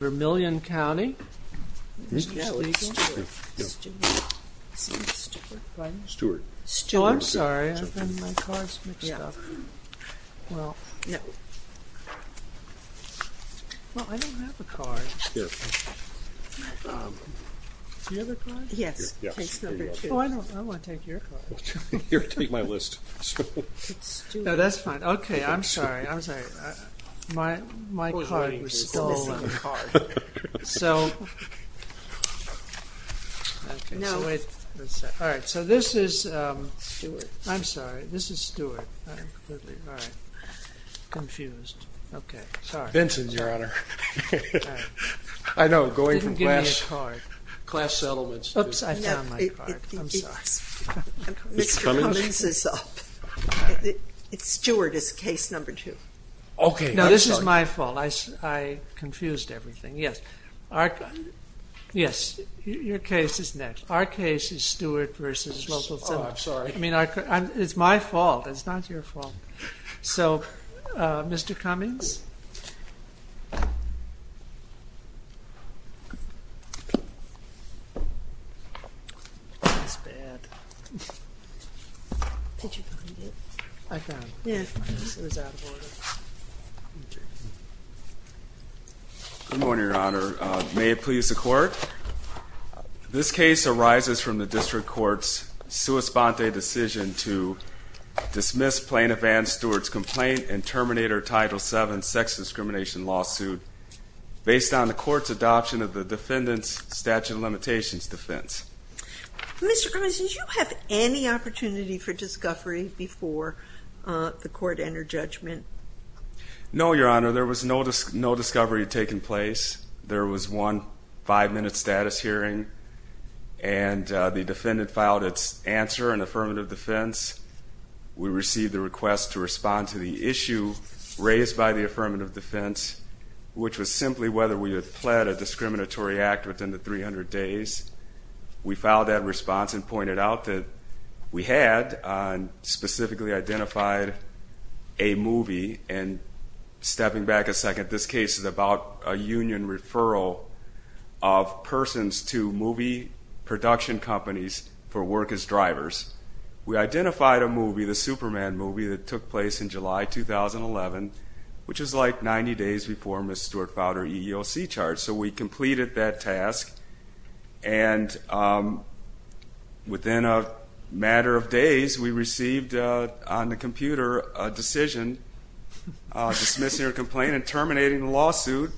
Vermillion County Mr. Cummings is up. Stuart is case number 2. Mr. Cummings is up. Mr. Cummings, did you have any opportunity for discovery before the court entered judgment? No, Your Honor, there was no discovery taking place. There was one five-minute status hearing, and the defendant filed its answer in affirmative defense. We received the request to respond to the issue raised by the affirmative defense, which was simply whether we had fled a discriminatory act within the 300 days. We filed that response and pointed out that we had specifically identified a movie, and stepping back a second, this case is about a union referral of persons to movie production companies for work as drivers. We identified a movie, the Superman movie, that took place in July 2011, which is like 90 days before Ms. Stuart filed her EEOC charge. So we completed that task, and within a matter of days, we received on the computer a decision dismissing her complaint and terminating the lawsuit,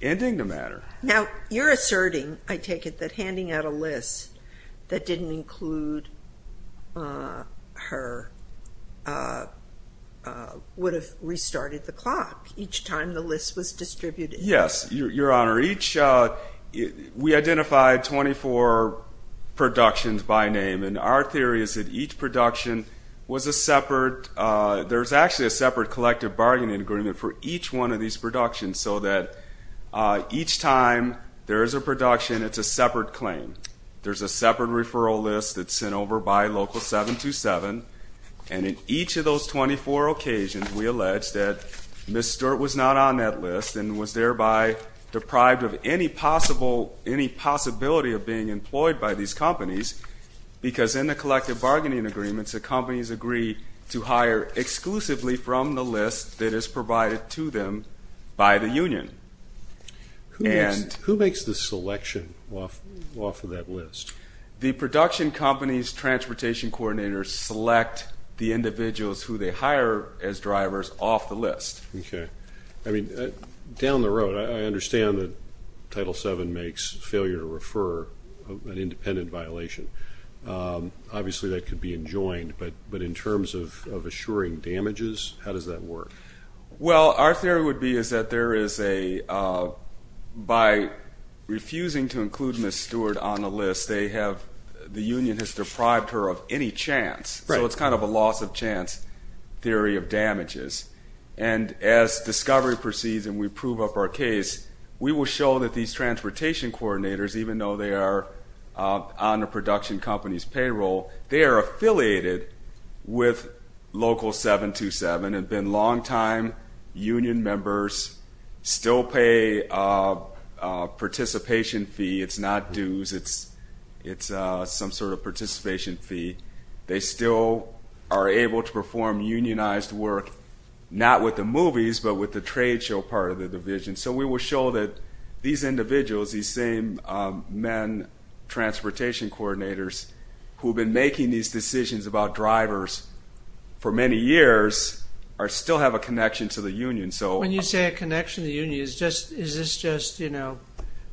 ending the matter. Now, you're asserting, I take it, that handing out a list that didn't include her would have restarted the clock each time the list was distributed. Yes, Your Honor. We identified 24 productions by name, and our theory is that each production was a separate, there's actually a separate collective bargaining agreement for each one of these productions, so that each time there is a production, it's a separate claim. There's a separate referral list that's sent over by local 727, and in each of those 24 occasions, we allege that Ms. Stuart was not on that list and was thereby deprived of any possibility of being employed by these companies, because in the collective bargaining agreements, the companies agree to hire exclusively from the list that is provided to them by the union. Who makes the selection off of that list? The production companies' transportation coordinators select the individuals who they hire as drivers off the list. Okay. I mean, down the road, I understand that Title VII makes failure to refer an independent violation. Obviously, that could be enjoined, but in terms of assuring damages, how does that work? Well, our theory would be is that there is a, by refusing to include Ms. Stuart on the list, they have, the union has deprived her of any chance, so it's kind of a loss of chance theory of damages. And as discovery proceeds and we prove up our case, we will show that these transportation coordinators, even though they are on the production company's payroll, they are affiliated with local 727, have been longtime union members, still pay a participation fee. It's not dues. It's some sort of participation fee. They still are able to perform unionized work, not with the movies, but with the trade show part of the division. So we will show that these individuals, these same men, transportation coordinators, who have been making these decisions about drivers for many years, still have a connection to the union. When you say a connection to the union, is this just, you know,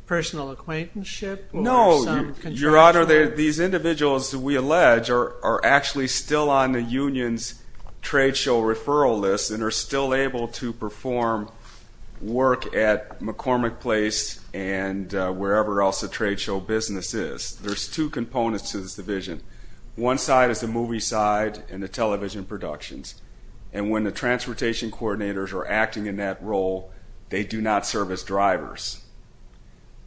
personal acquaintanceship? No, Your Honor, these individuals, we allege, are actually still on the union's trade show referral list and are still able to perform work at McCormick Place and wherever else the trade show business is. There's two components to this division. One side is the movie side and the television productions. And when the transportation coordinators are acting in that role, they do not serve as drivers.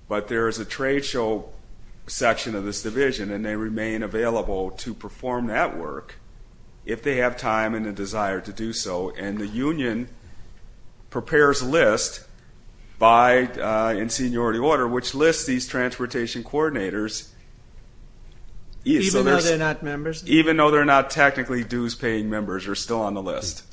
But there is a trade show section of this division, and they remain available to perform that work if they have time and a desire to do so. And the union prepares a list in seniority order which lists these transportation coordinators. Even though they're not members? Even though they're not technically dues-paying members, they're still on the list.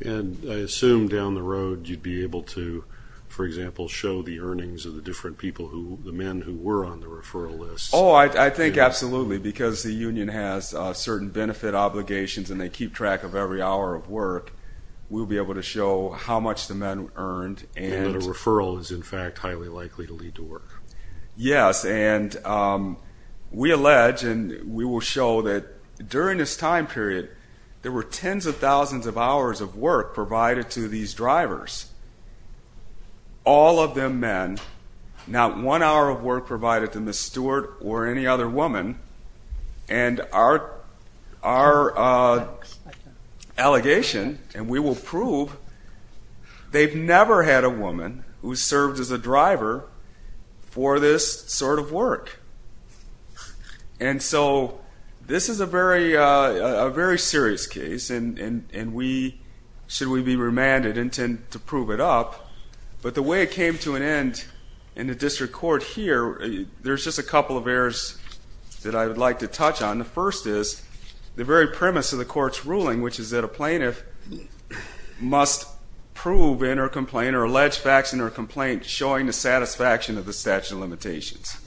And I assume down the road you'd be able to, for example, show the earnings of the different people, the men who were on the referral list. Oh, I think absolutely, because the union has certain benefit obligations and they keep track of every hour of work. We'll be able to show how much the men earned. And that a referral is, in fact, highly likely to lead to work. Yes, and we allege and we will show that during this time period, there were tens of thousands of hours of work provided to these drivers. All of them men. Not one hour of work provided to Ms. Stewart or any other woman. And our allegation, and we will prove, they've never had a woman who served as a driver for this sort of work. And so this is a very serious case, and we, should we be remanded, intend to prove it up. But the way it came to an end in the district court here, there's just a couple of errors that I would like to touch on. The first is the very premise of the court's ruling, which is that a plaintiff must prove in her complaint or allege facts in her complaint showing the satisfaction of the statute of limitations.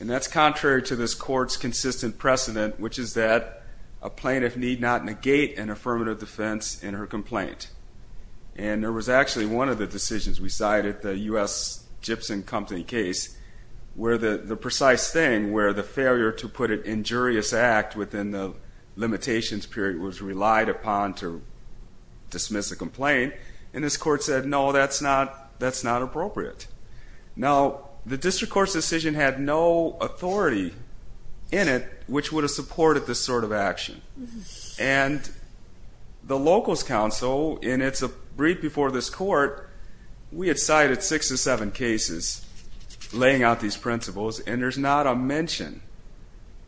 And that's contrary to this court's consistent precedent, which is that a plaintiff need not negate an affirmative defense in her complaint. And there was actually one of the decisions we cited, the U.S. Gibson Company case, where the precise thing, where the failure to put an injurious act within the limitations period was relied upon to dismiss a complaint, and this court said, no, that's not appropriate. Now, the district court's decision had no authority in it which would have supported this sort of action. And the locals' council, in its brief before this court, we had cited six or seven cases laying out these principles, and there's not a mention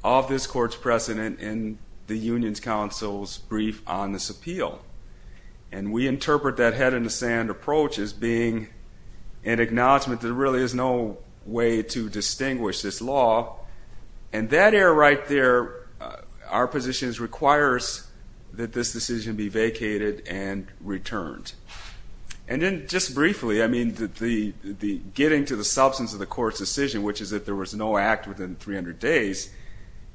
of this court's precedent in the union's council's brief on this appeal. And we interpret that head-in-the-sand approach as being an acknowledgment that there really is no way to distinguish this law. And that error right there, our position, requires that this decision be vacated and returned. And then just briefly, I mean, the getting to the substance of the court's decision, which is that there was no act within 300 days,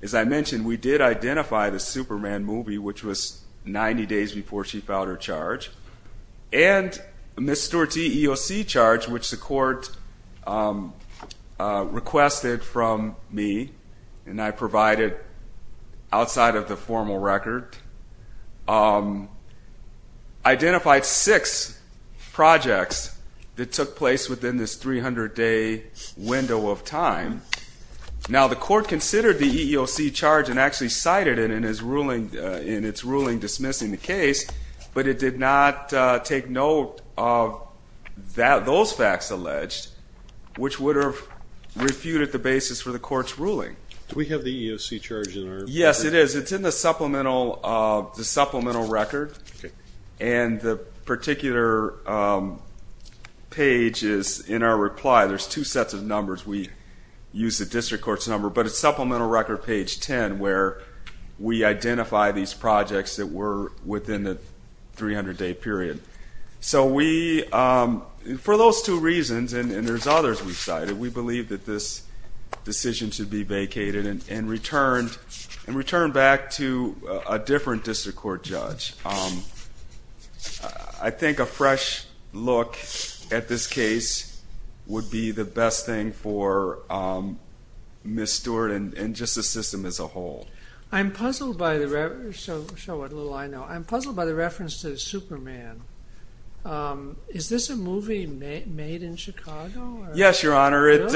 as I mentioned, we did identify the Superman movie, which was 90 days before she filed her charge, and Ms. Stewart's EEOC charge, which the court requested from me, and I provided outside of the formal record, identified six projects that took place within this 300-day window of time. Now, the court considered the EEOC charge and actually cited it in its ruling dismissing the case, but it did not take note of those facts alleged, which would have refuted the basis for the court's ruling. Do we have the EEOC charge in our record? Yes, it is. It's in the supplemental record, and the particular page is in our reply. There's two sets of numbers. We use the district court's number, but it's supplemental record page 10, where we identify these projects that were within the 300-day period. So we, for those two reasons, and there's others we've cited, we believe that this decision should be vacated and returned back to a different district court judge. I think a fresh look at this case would be the best thing for Ms. Stewart and just the system as a whole. I'm puzzled by the reference to Superman. Is this a movie made in Chicago? Yes, Your Honor. It's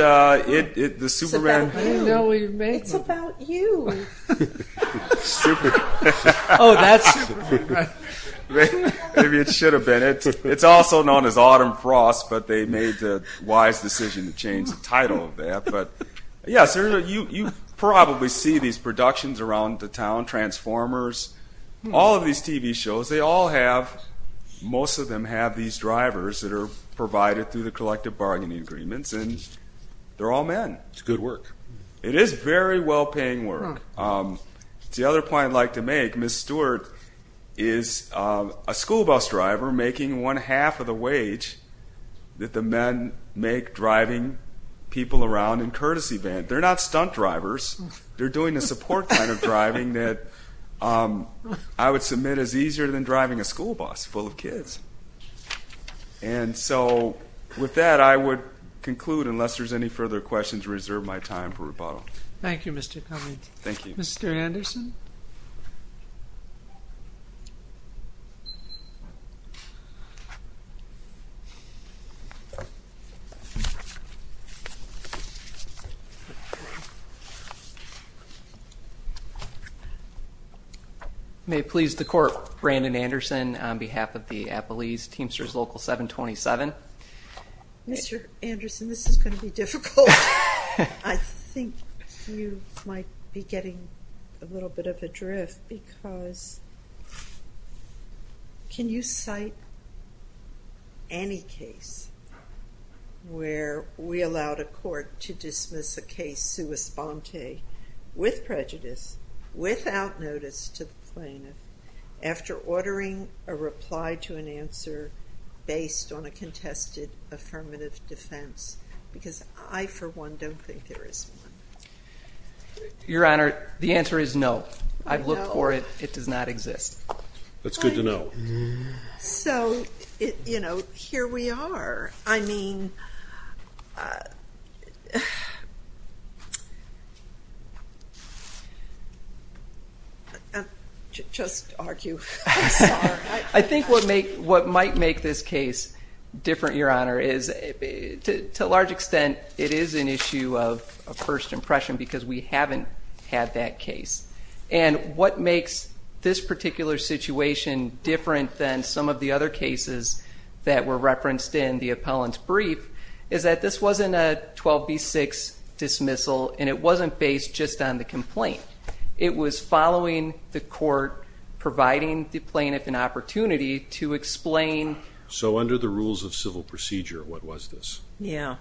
about you. Oh, that's Superman. Maybe it should have been. It's also known as Autumn Frost, but they made the wise decision to change the title of that. Yes, Your Honor, you probably see these productions around the town, Transformers, all of these TV shows. Most of them have these drivers that are provided through the collective bargaining agreements, and they're all men. It's good work. It is very well-paying work. The other point I'd like to make, Ms. Stewart is a school bus driver making one-half of the wage that the men make driving people around in courtesy vans. They're not stunt drivers. They're doing the support kind of driving that I would submit as easier than driving a school bus full of kids. And so with that, I would conclude, unless there's any further questions, reserve my time for rebuttal. Thank you, Mr. Cummings. Thank you. Mr. Anderson? May it please the Court, Brandon Anderson on behalf of the Appalese Teamsters Local 727. Mr. Anderson, this is going to be difficult. I think you might be getting a little bit of a drift because can you cite any case where we allowed a court to dismiss a case sua sponte with prejudice, without notice to the plaintiff, after ordering a reply to an answer based on a contested affirmative defense? Because I, for one, don't think there is one. Your Honor, the answer is no. I've looked for it. It does not exist. That's good to know. So, you know, here we are. I think what might make this case different, Your Honor, is to a large extent it is an issue of first impression because we haven't had that case. And what makes this particular situation different than some of the other cases that were referenced in the appellant's brief is that this wasn't a 12b-6 dismissal and it wasn't based just on the complaint. It was following the court, providing the plaintiff an opportunity to explain. So under the rules of civil procedure, what was this? Yeah.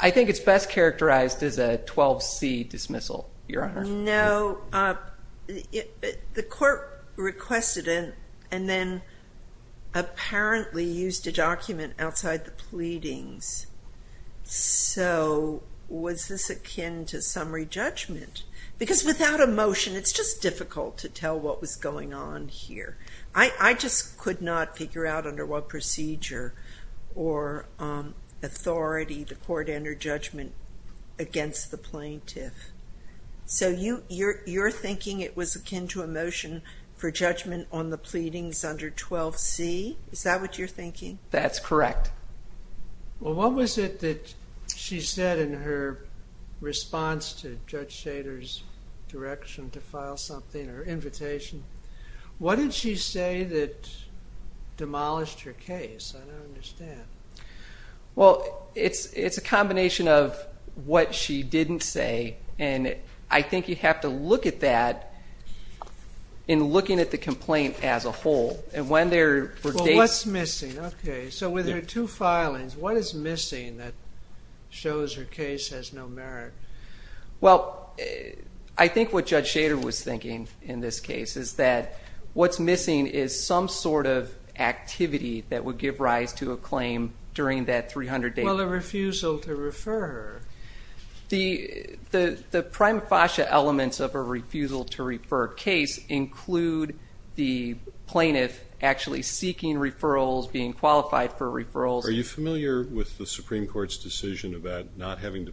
I think it's best characterized as a 12c dismissal, Your Honor. No. The court requested it and then apparently used a document outside the pleadings. So was this akin to summary judgment? Because without a motion it's just difficult to tell what was going on here. I just could not figure out under what procedure or authority the court entered judgment against the plaintiff. So you're thinking it was akin to a motion for judgment on the pleadings under 12c? Is that what you're thinking? That's correct. Well, what was it that she said in her response to Judge Shader's direction to file something, her invitation? What did she say that demolished her case? I don't understand. Well, it's a combination of what she didn't say and I think you have to look at that in looking at the complaint as a whole. Well, what's missing? Okay. So with her two filings, what is missing that shows her case has no merit? Well, I think what Judge Shader was thinking in this case is that what's missing is some sort of activity that would give rise to a claim during that 300-day period. Well, a refusal to refer her. The prima facie elements of a refusal to refer case include the plaintiff actually seeking referrals, being qualified for referrals. Are you familiar with the Supreme Court's decision about not having to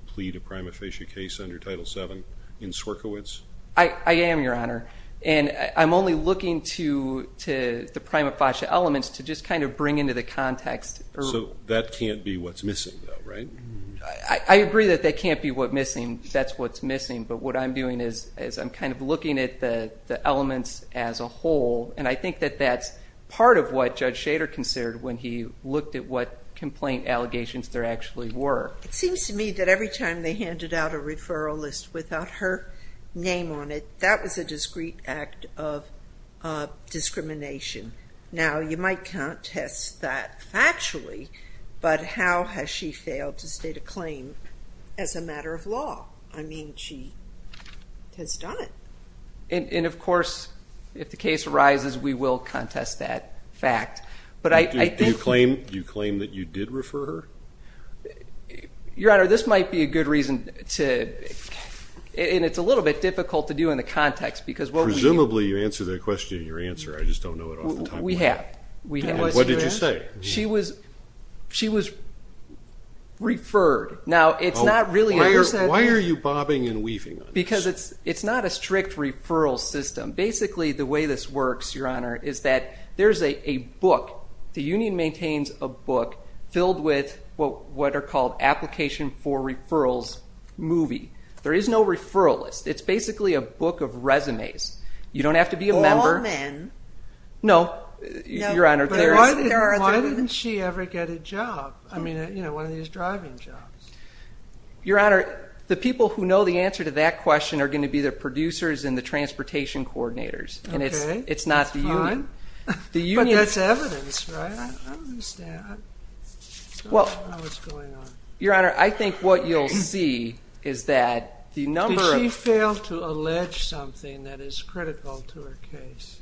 issue a case under Title VII in Sierkiewicz? I am, Your Honor. And I'm only looking to the prima facie elements to just kind of bring into the context. So that can't be what's missing though, right? I agree that that can't be what's missing. That's what's missing. But what I'm doing is I'm kind of looking at the elements as a whole, and I think that that's part of what Judge Shader considered when he looked at what complaint allegations there actually were. It seems to me that every time they handed out a referral list without her name on it, that was a discreet act of discrimination. Now, you might contest that factually, but how has she failed to state a claim as a matter of law? I mean, she has done it. And, of course, if the case arises, we will contest that fact. Do you claim that you did refer her? Your Honor, this might be a good reason to, and it's a little bit difficult to do in the context because what we do. Presumably you answered that question in your answer. I just don't know it off the top of my head. We have. What did you say? She was referred. Now, it's not really. Why are you bobbing and weaving on this? Because it's not a strict referral system. Basically, the way this works, Your Honor, is that there's a book. The union maintains a book filled with what are called application for referrals movie. There is no referral list. It's basically a book of resumes. You don't have to be a member. All men. No, Your Honor. Why didn't she ever get a job? I mean, one of these driving jobs. Your Honor, the people who know the answer to that question are going to be the producers and the transportation coordinators. Okay. It's not the union. That's fine. I don't understand. I don't know what's going on. Your Honor, I think what you'll see is that the number of. Did she fail to allege something that is critical to her case?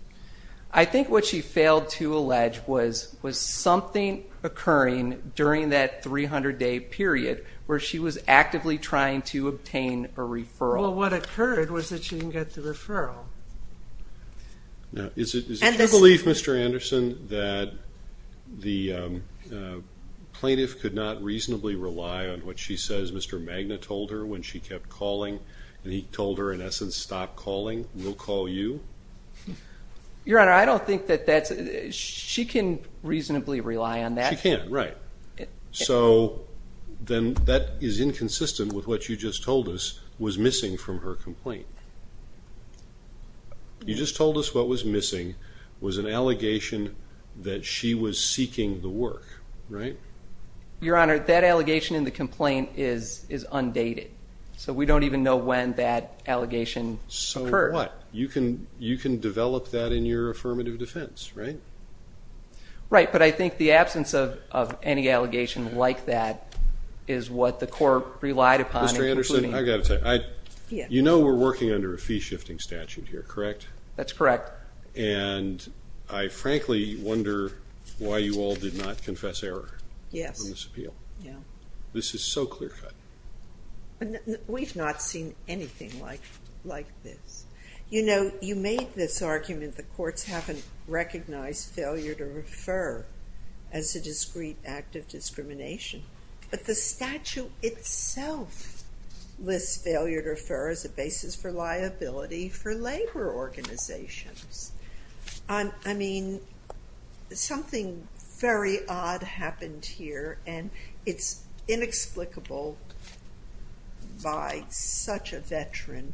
I think what she failed to allege was something occurring during that 300-day period where she was actively trying to obtain a referral. Well, what occurred was that she didn't get the referral. Now, is it your belief, Mr. Anderson, that the plaintiff could not reasonably rely on what she says Mr. Magna told her when she kept calling and he told her, in essence, stop calling, we'll call you? Your Honor, I don't think that that's. She can reasonably rely on that. She can, right. So then that is inconsistent with what you just told us was missing from her complaint. You just told us what was missing was an allegation that she was seeking the work, right? Your Honor, that allegation in the complaint is undated. So we don't even know when that allegation occurred. So what? You can develop that in your affirmative defense, right? Right. But I think the absence of any allegation like that is what the court relied upon. Mr. Anderson, I've got to tell you. You know we're working under a fee-shifting statute here, correct? That's correct. And I frankly wonder why you all did not confess error on this appeal. Yes. This is so clear-cut. We've not seen anything like this. You know, you made this argument that courts haven't recognized failure to refer as a discreet act of discrimination. But the statute itself lists failure to refer as a basis for liability for labor organizations. I mean, something very odd happened here and it's inexplicable by such a veteran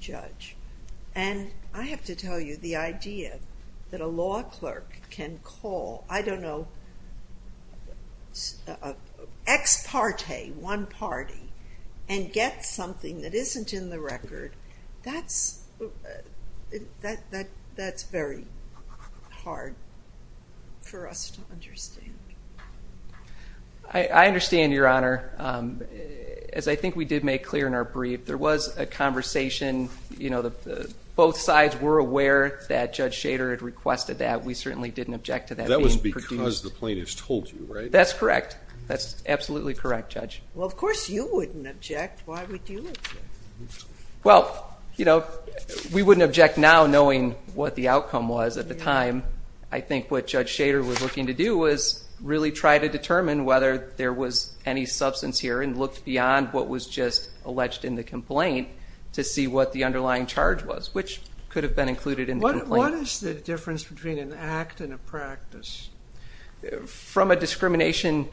judge. And I have to tell you the idea that a law clerk can call, I don't know, an ex parte, one party, and get something that isn't in the record, that's very hard for us to understand. I understand, Your Honor. As I think we did make clear in our brief, there was a conversation. You know, both sides were aware that Judge Shader had requested that. We certainly didn't object to that being produced. Because the plaintiff's told you, right? That's correct. That's absolutely correct, Judge. Well, of course you wouldn't object. Why would you object? Well, you know, we wouldn't object now knowing what the outcome was at the time. I think what Judge Shader was looking to do was really try to determine whether there was any substance here and look beyond what was just alleged which could have been included in the complaint. What is the difference between an act and a practice? From a discrimination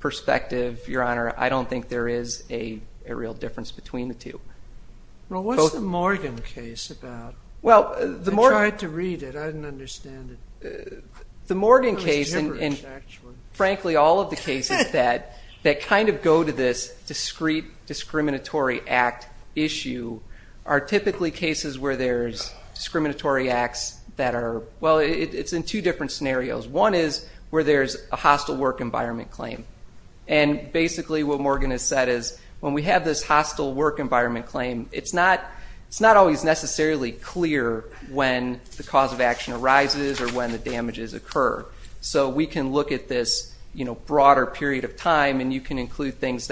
perspective, Your Honor, I don't think there is a real difference between the two. Well, what's the Morgan case about? I tried to read it. I didn't understand it. The Morgan case and frankly all of the cases that kind of go to this discreet discriminatory act issue are typically cases where there's that are, well, it's in two different scenarios. One is where there's a hostile work environment claim. And basically what Morgan has said is when we have this hostile work environment claim, it's not always necessarily clear when the cause of action arises or when the damages occur. So we can look at this broader period of time and you can include things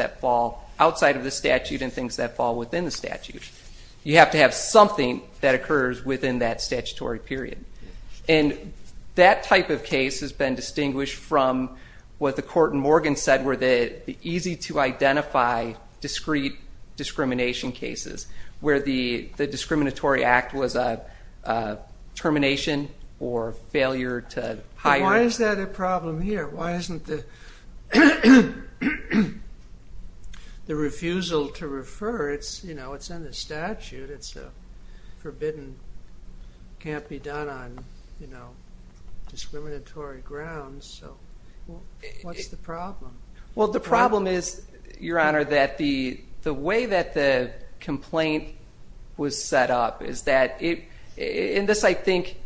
you have to have something that occurs within that statutory period. And that type of case has been distinguished from what the court in Morgan said were the easy to identify discreet discrimination cases where the discriminatory act was a termination or failure to hire. Why is that a problem here? Why isn't the refusal to refer? It's in the statute. It's forbidden. It can't be done on discriminatory grounds. So what's the problem? Well, the problem is, Your Honor, that the way that the complaint was set up is that it, and this I think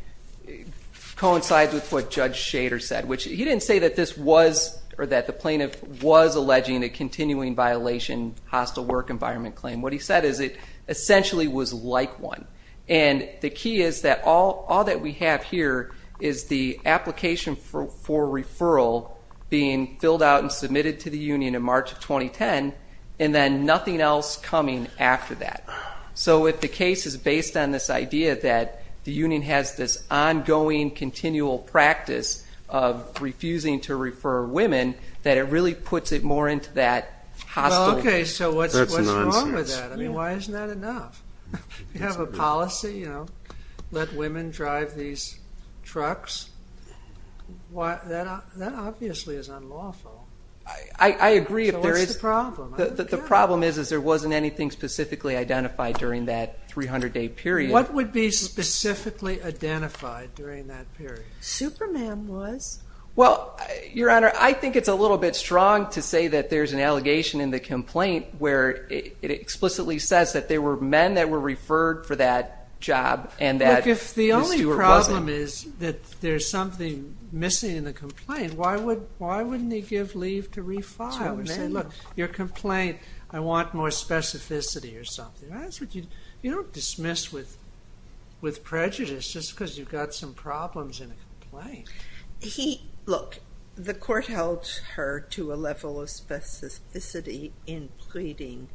coincides with what Judge Shader said, which he didn't say that this was or that the plaintiff was alleging a continuing violation hostile work environment claim. What he said is it essentially was like one. And the key is that all that we have here is the application for referral being filled out and submitted to the union in March of 2010 and then nothing else coming after that. So if the case is based on this idea that the union has this ongoing continual practice of refusing to refer women, that it really puts it more into that hostile. Okay. So what's wrong with that? I mean, why isn't that enough? You have a policy, you know, let women drive these trucks. That obviously is unlawful. I agree. So what's the problem? The problem is, is there wasn't anything specifically identified during that 300-day period. What would be specifically identified during that period? Superman was. Well, Your Honor, I think it's a little bit strong to say that there's an allegation in the complaint where it explicitly says that there were men that were referred for that job and that the steward wasn't. Look, if the only problem is that there's something missing in the complaint, why wouldn't he give leave to refile? Look, your complaint, I want more specificity or something. You don't dismiss with prejudice just because you've got some problems in a complaint. Look, the court held her to a level of specificity in pleading.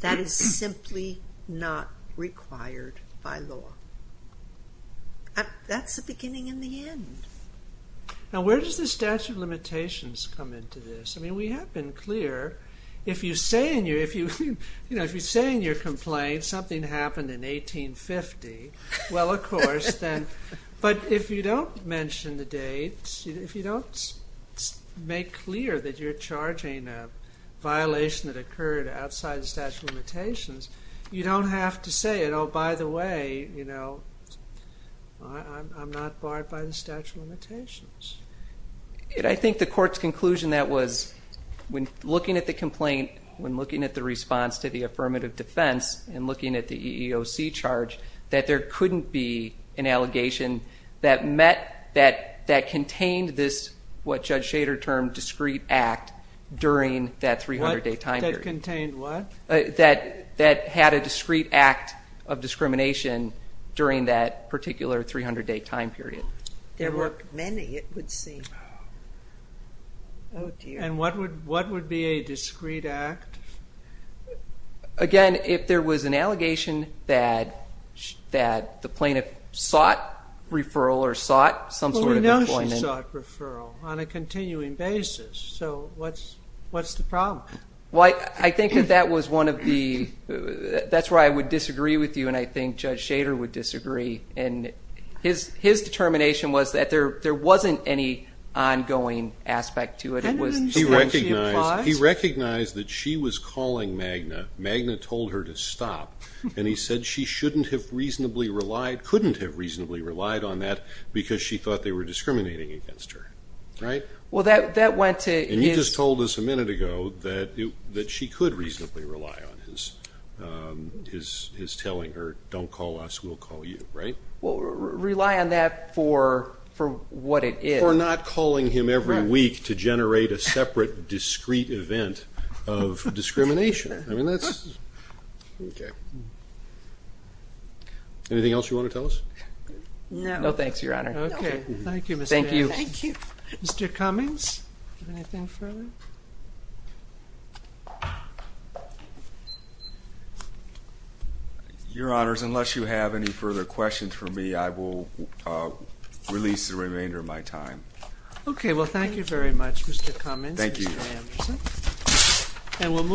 That is simply not required by law. That's the beginning and the end. Now, where does the statute of limitations come into this? I mean, we have been clear. If you say in your complaint something happened in 1850, well, of course. But if you don't mention the dates, if you don't make clear that you're charging a violation that occurred outside the statute of limitations, you don't have to say it. Oh, by the way, I'm not barred by the statute of limitations. I think the court's conclusion that was when looking at the complaint, when looking at the response to the affirmative defense and looking at the EEOC charge, that there couldn't be an allegation that contained this, what Judge Shader termed discrete act during that 300-day time period. That contained what? That had a discrete act of discrimination during that particular 300-day time period. There were many, it would seem. Oh, dear. And what would be a discrete act? Again, if there was an allegation that the plaintiff sought referral or sought some sort of employment. Well, we know she sought referral on a continuing basis, so what's the problem? Well, I think that that was one of the – that's why I would disagree with you and I think Judge Shader would disagree. And his determination was that there wasn't any ongoing aspect to it. He recognized that she was calling Magna, Magna told her to stop, and he said she shouldn't have reasonably relied, couldn't have reasonably relied on that because she thought they were discriminating against her, right? Well, that went to his – And you just told us a minute ago that she could reasonably rely on his telling her, don't call us, we'll call you, right? Well, rely on that for what it is. For not calling him every week to generate a separate, discrete event of discrimination. I mean, that's – okay. Anything else you want to tell us? No. No, thanks, Your Honor. Okay. Thank you, Mr. Adams. Thank you. Thank you. Mr. Cummings? Anything further? Your Honors, unless you have any further questions for me, I will release the remainder of my time. Okay. Well, thank you very much, Mr. Cummings. Thank you. Mr. Anderson. And we'll move –